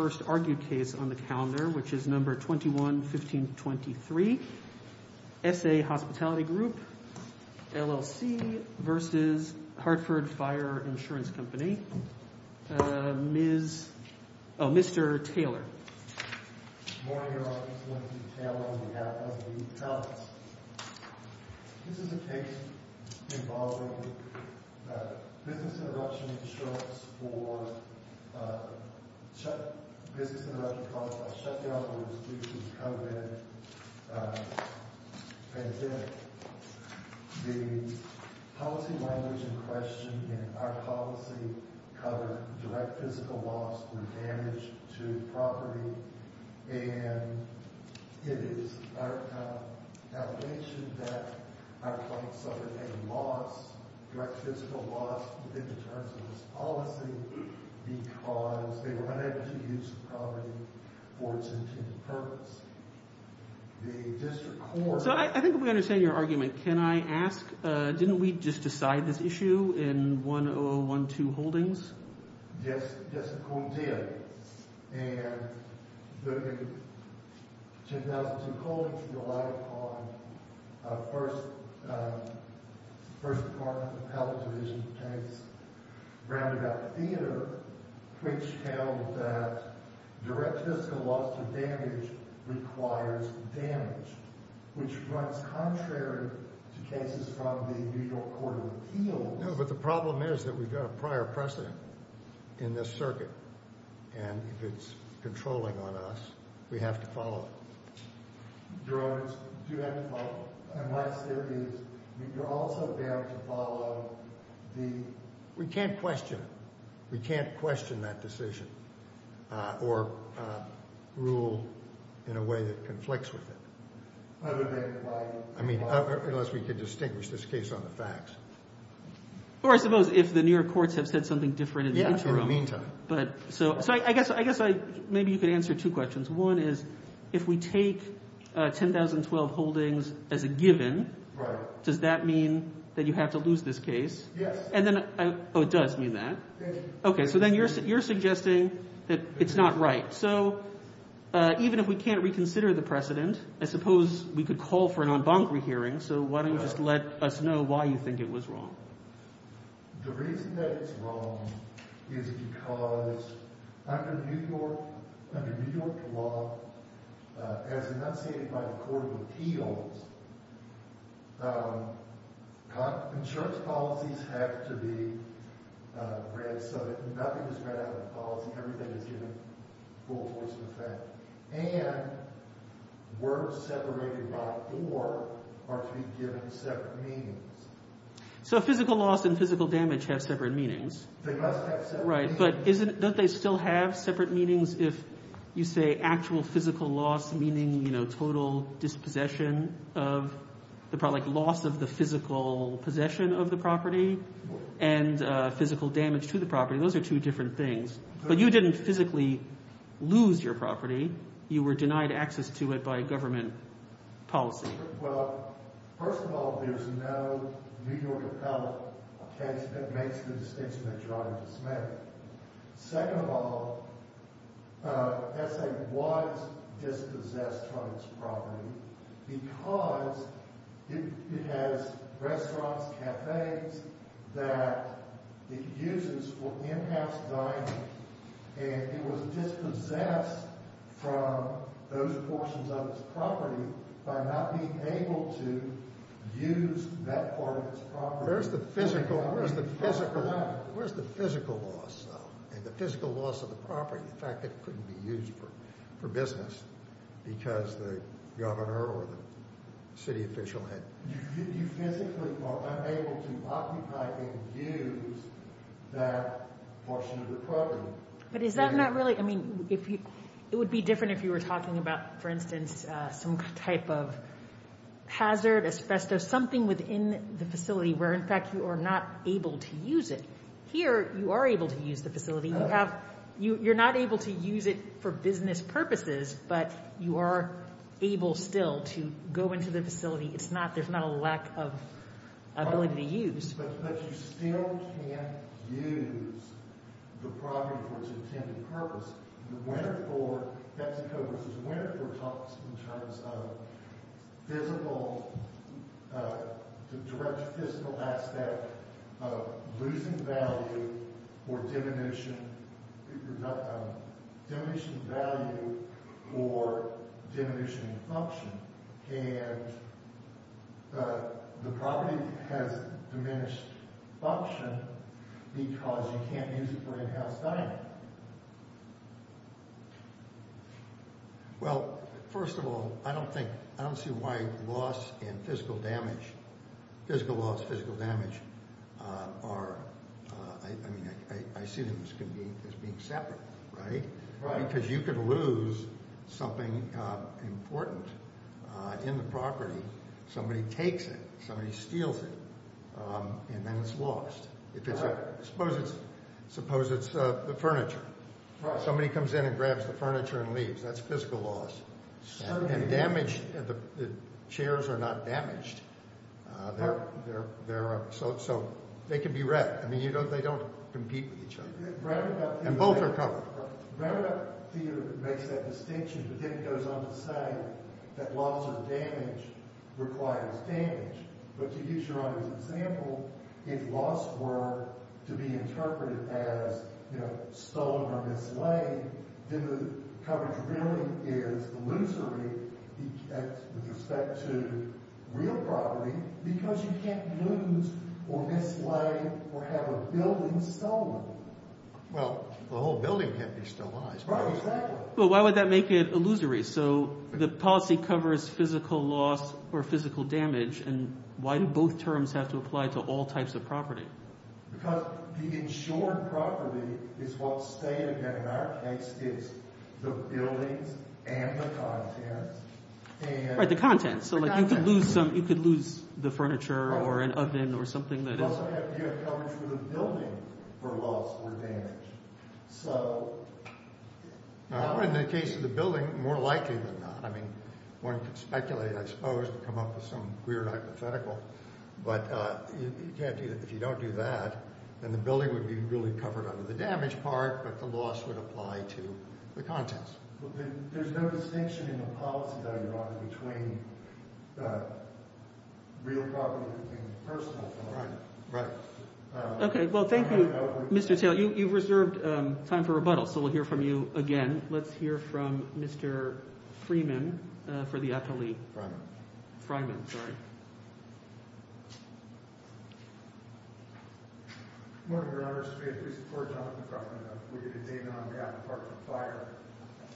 on the calendar, which is No. 21-1523, S.A. Hospitality Group, LLC v. Hartford Fire Insurance Company, Mr. Taylor. Good morning, everyone. This is Mr. Taylor, and we have Leslie Towns. This is a case involving business interruption insurance for business interruption caused by shutdowns due to the COVID pandemic. The policy language in question in our policy covered direct physical loss through damage to property. And it is our allegation that our client suffered a loss, direct physical loss, in terms of this policy because they were unable to use the property for its intended purpose. So I think we understand your argument. Can I ask, didn't we just decide this issue in 10012 Holdings? Yes, yes, we did. And the 10012 Holdings relied upon a First Department Appellate Division case, Roundabout Theater, which held that direct physical loss through damage requires damage, which runs contrary to cases from the New York Court of Appeals. No, but the problem is that we've got a prior precedent in this circuit, and if it's controlling on us, we have to follow it. Your Honor, do you have to follow it? Unless there is, you're also bound to follow the... We can't question it. We can't question that decision or rule in a way that conflicts with it. I mean, unless we can distinguish this case on the facts. Or I suppose if the New York courts have said something different in the interim. Yeah, for the meantime. So I guess maybe you could answer two questions. One is, if we take 10012 Holdings as a given, does that mean that you have to lose this case? Yes. Oh, it does mean that? Yes. Okay, so then you're suggesting that it's not right. So even if we can't reconsider the precedent, I suppose we could call for an en banc rehearing. So why don't you just let us know why you think it was wrong? The reason that it's wrong is because under New York law, as enunciated by the Court of Appeals, insurance policies have to be read so that nothing is read out of the policy. Everything is given full force of effect. And words separated by or are to be given separate meanings. So physical loss and physical damage have separate meanings. They must have separate meanings. Right. But don't they still have separate meanings if you say actual physical loss, meaning, you know, total dispossession of the property, like loss of the physical possession of the property and physical damage to the property? Those are two different things. But you didn't physically lose your property. You were denied access to it by government policy. Well, first of all, there's no New York appellate case that makes the distinction that Your Honor just made. Second of all, SA was dispossessed from its property because it has restaurants, cafes that it uses for in-house dining. And it was dispossessed from those portions of its property by not being able to use that part of its property. Where's the physical loss, though, and the physical loss of the property? In fact, it couldn't be used for business because the governor or the city official had— But is that not really—I mean, it would be different if you were talking about, for instance, some type of hazard, asbestos, something within the facility where, in fact, you are not able to use it. Here, you are able to use the facility. You have—you're not able to use it for business purposes, but you are able still to go into the facility. It's not—there's not a lack of ability to use. But you still can't use the property for its intended purpose. The winner for—Petticoat v. Winterthur talks in terms of physical—the direct physical aspect of losing value or diminishing— because you can't use it for in-house dining. Well, first of all, I don't think—I don't see why loss and physical damage, physical loss, physical damage, are— I mean, I see them as being separate, right? Right. Because you could lose something important in the property. Somebody takes it. Somebody steals it. And then it's lost. Correct. Suppose it's the furniture. Right. Somebody comes in and grabs the furniture and leaves. That's physical loss. Certainly. And damage—the chairs are not damaged. They're—so they can be read. I mean, you don't—they don't compete with each other. Right. And both are covered. Right. Marriott makes that distinction, but then it goes on to say that loss or damage requires damage. But to use Your Honor's example, if loss were to be interpreted as, you know, stolen or mislaid, then the coverage really is illusory with respect to real property because you can't lose or mislaid or have a building stolen. Well, the whole building can't be stolen. Right, exactly. Well, why would that make it illusory? So the policy covers physical loss or physical damage. And why do both terms have to apply to all types of property? Because the insured property is what's stated there. In our case, it's the buildings and the contents. Right, the contents. So you could lose the furniture or an oven or something that is— You also have to have coverage for the building for loss or damage. So— In the case of the building, more likely than not. I mean, one could speculate, I suppose, and come up with some weird hypothetical. But you can't do that. If you don't do that, then the building would be really covered under the damage part, but the loss would apply to the contents. There's no distinction in the policy, though, Your Honor, between real property and personal property. Right, right. Okay, well, thank you, Mr. Taylor. You've reserved time for rebuttal, so we'll hear from you again. Let's hear from Mr. Freeman for the appellee. Fryman. Fryman, sorry. Good morning, Your Honor. First, may it please the Court, and on behalf of the government, I move that the date on behalf of the department of fire,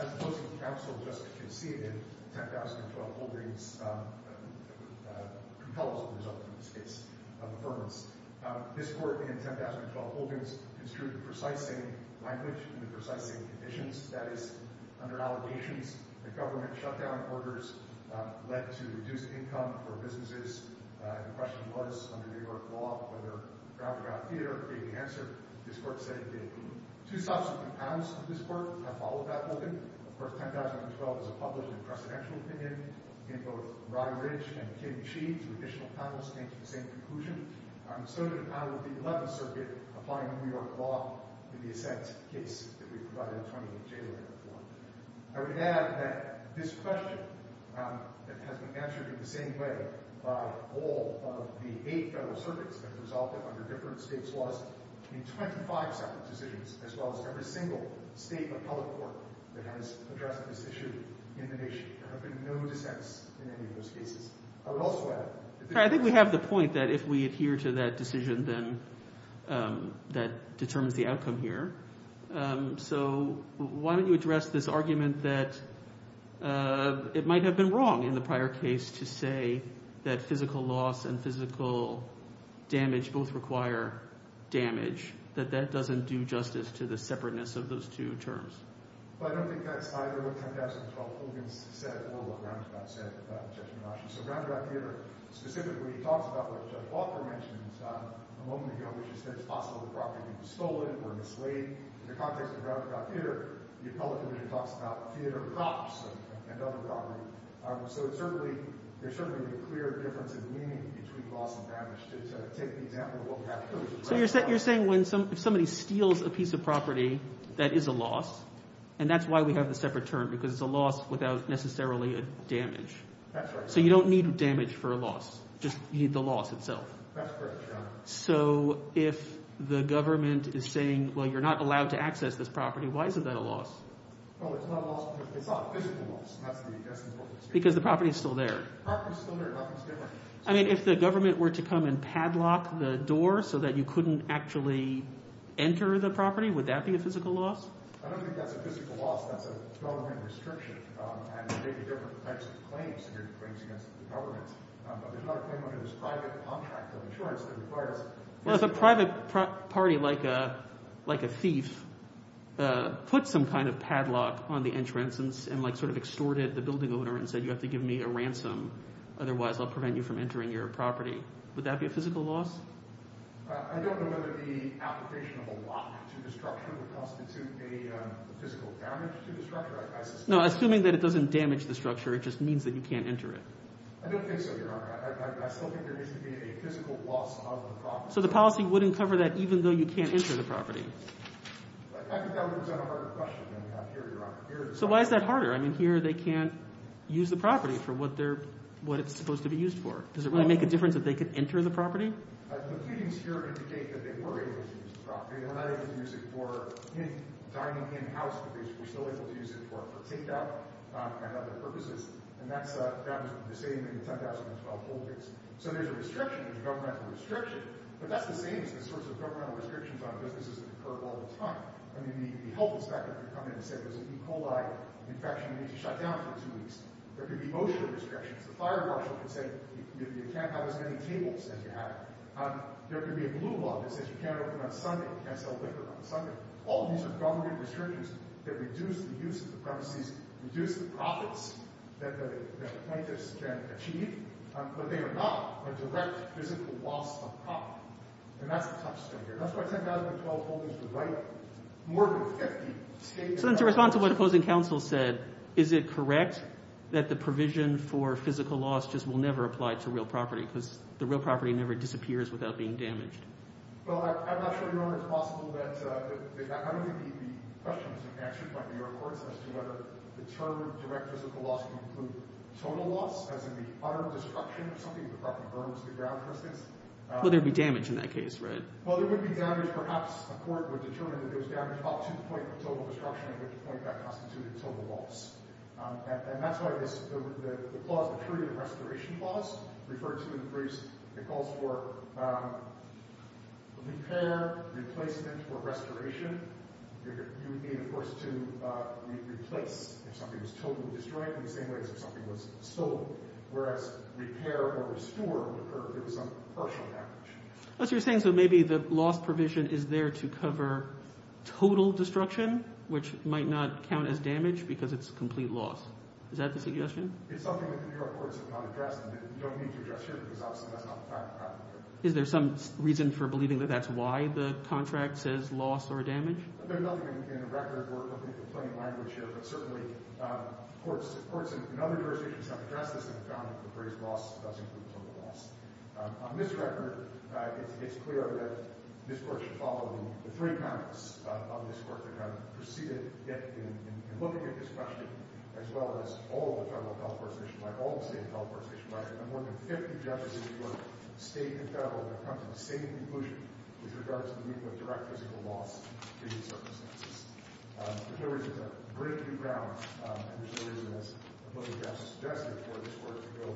as opposed to the counsel just conceded, 10,012 Holdings compels the result of this case of affirmance. This Court, in 10,012 Holdings, construed the precise same language and the precise same conditions. That is, under allegations that government shutdown orders led to reduced income for businesses. The question was, under New York law, whether crowd-to-crowd theater gave the answer. This Court said it did. Two subsequent panels of this Court have followed that opinion. Of course, 10,012 is a published and precedential opinion. Again, both Brian Ridge and Kim Sheehan, two additional panelists, came to the same conclusion. So did a panel of the 11th Circuit applying New York law in the assent case that we provided attorney Taylor for. I would add that this question has been answered in the same way by all of the eight federal circuits that have resulted under different states' laws in 25 separate decisions, as well as every single state and public court that has addressed this issue in the nation. There have been no dissents in any of those cases. I would also add that this Court— I think we have the point that if we adhere to that decision, then that determines the outcome here. So why don't you address this argument that it might have been wrong in the prior case to say that physical loss and physical damage both require damage, that that doesn't do justice to the separateness of those two terms. Well, I don't think that's either what 10,012 Hogan said or what Roundabout said, Judge Milosz. So Roundabout Theater specifically talks about what Judge Walker mentioned a moment ago, which is that it's possible the property could be stolen or mislaid. In the context of Roundabout Theater, the appellate division talks about theater cops and other property. So there certainly would be a clear difference in meaning between loss and damage. To take the example of what happened— So you're saying when somebody steals a piece of property, that is a loss. And that's why we have the separate term, because it's a loss without necessarily a damage. That's right. So you don't need damage for a loss. Just you need the loss itself. That's correct, yeah. So if the government is saying, well, you're not allowed to access this property, why isn't that a loss? Well, it's not a loss because it's not a physical loss. Because the property is still there. The property is still there. Nothing's different. I mean, if the government were to come and padlock the door so that you couldn't actually enter the property, would that be a physical loss? I don't think that's a physical loss. That's a government restriction. And there may be different types of claims against the government. But there's not a claim under this private contract of insurance that requires— Well, if a private party, like a thief, put some kind of padlock on the entrance and like sort of extorted the building owner and said, you have to give me a ransom, otherwise I'll prevent you from entering your property, would that be a physical loss? I don't know whether the application of a lock to the structure would constitute a physical damage to the structure. No, assuming that it doesn't damage the structure, it just means that you can't enter it. I don't think so, Your Honor. I still think there needs to be a physical loss of the property. So the policy wouldn't cover that even though you can't enter the property? I think that would present a harder question than we have here, Your Honor. So why is that harder? I mean here they can't use the property for what they're—what it's supposed to be used for. Does it really make a difference if they could enter the property? The pleadings here indicate that they were able to use the property. They were not able to use it for dining in-house, but they were still able to use it for takeout and other purposes. And that was the same in the 2012 whole case. So there's a restriction. There's a governmental restriction. But that's the same as the sorts of governmental restrictions on businesses that occur all the time. I mean the health inspector could come in and say there's a E. coli infection, you need to shut down for two weeks. There could be motion restrictions. The fire marshal could say you can't have as many tables as you have. There could be a blue law that says you can't open on Sunday, you can't sell liquor on Sunday. All these are governmental restrictions that reduce the use of the premises, reduce the profits that the plaintiffs can achieve. But they are not a direct physical loss of property. And that's the tough stuff here. That's why I said the 2012 whole case would write more of a hefty statement. So then to respond to what opposing counsel said, is it correct that the provision for physical loss just will never apply to real property because the real property never disappears without being damaged? Well, I'm not sure whether it's possible that that would be the questions answered by New York courts as to whether the term direct physical loss can include total loss as in the utter destruction of something, the property burns to the ground, for instance. Well, there would be damage in that case, right? Well, there would be damage. Perhaps a court would determine that there was damage up to the point of total destruction at which point that constituted total loss. And that's why the clause, the period of restoration clause, referred to in the briefs, it calls for repair, replacement, or restoration. You would need, of course, to replace if something was totally destroyed in the same way as if something was sold, whereas repair or restore would occur if there was some partial damage. What you're saying is that maybe the loss provision is there to cover total destruction, which might not count as damage because it's complete loss. Is that the suggestion? It's something that the New York courts have not addressed and don't need to address here because obviously that's not the fact of the matter. Is there some reason for believing that that's why the contract says loss or damage? There's nothing in the record or the plain language here, but certainly courts in other jurisdictions have addressed this and have found that the phrase loss does include total loss. On this record, it's clear that this court should follow the three comments of this court that have preceded it in looking at this question, as well as all the federal health court station records, all the state health court station records, and more than 50 judges in each court, state and federal, have come to the same conclusion with regards to the meaning of direct physical loss in these circumstances. There is a break in the ground, and there's a reason that's what the judge suggested for this court to go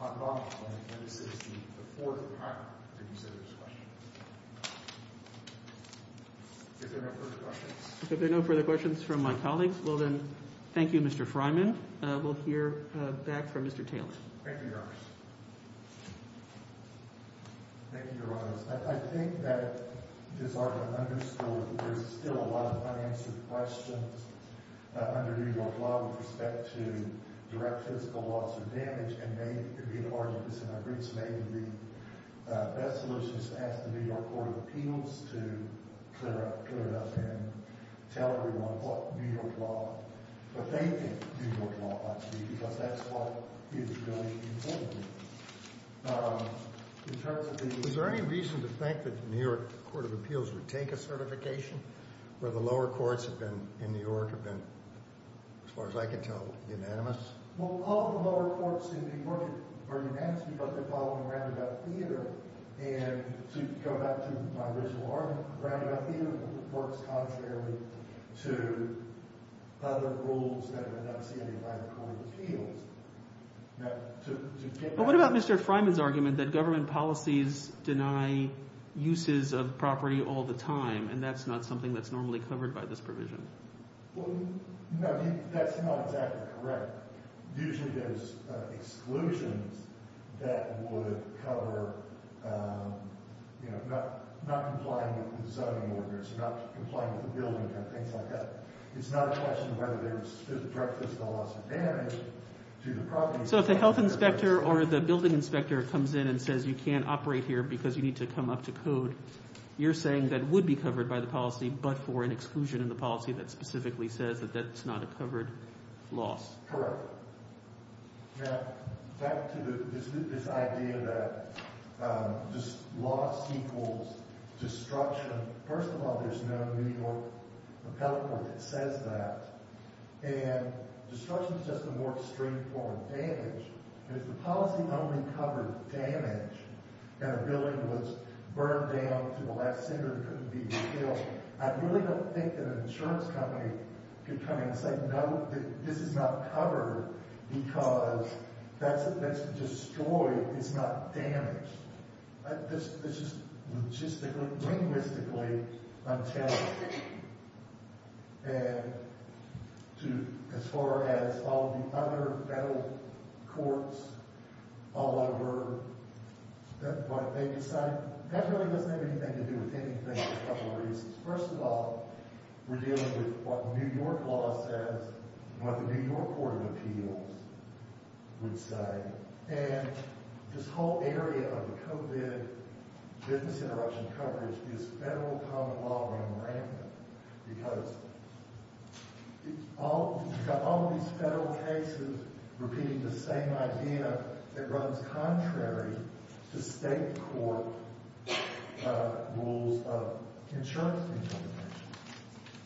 unlawfully, and this is the fourth time that he's said this question. If there are no further questions. If there are no further questions from my colleagues, well then, thank you, Mr. Freiman. We'll hear back from Mr. Taylor. Thank you, Your Honor. Thank you, Your Honor. I think that it's already understood that there's still a lot of unanswered questions under New York law with respect to direct physical loss or damage, and maybe it could be an argument, and I think it's maybe the best solution is to ask the New York Court of Appeals to clear it up and tell everyone what New York law, what they think New York law ought to be, because that's what is really important. In terms of the... Is there any reason to think that the New York Court of Appeals would take a certification where the lower courts have been, in New York, have been, as far as I can tell, unanimous? Well, all the lower courts in New York are unanimous, but they're following roundabout theater, and to go back to my original argument, roundabout theater works contrarily to other rules that are not stated by the Court of Appeals. Well, what about Mr. Freiman's argument that government policies deny uses of property all the time, and that's not something that's normally covered by this provision? Well, no, that's not exactly correct. Usually there's exclusions that would cover, you know, not complying with zoning orders, not complying with the building and things like that. It's not a question whether there's a direct disadvantage to the property. So if the health inspector or the building inspector comes in and says you can't operate here because you need to come up to code, you're saying that would be covered by the policy but for an exclusion in the policy that specifically says that that's not a covered loss? Correct. Now, back to this idea that just loss equals destruction. First of all, there's no New York appellate court that says that, and destruction is just a more extreme form of damage. And if the policy only covered damage, and a building was burned down to the last cinder and couldn't be repaired, I really don't think that an insurance company could come in and say, no, this is not covered because that's destroyed, it's not damaged. Logistically, linguistically, I'm challenged. And as far as all the other federal courts all over, that really doesn't have anything to do with anything for a couple of reasons. First of all, we're dealing with what the New York law says and what the New York Court of Appeals would say. And this whole area of the COVID business interruption coverage is federal common law running rampant because you've got all these federal cases repeating the same idea that runs contrary to state court rules of insurance implementation.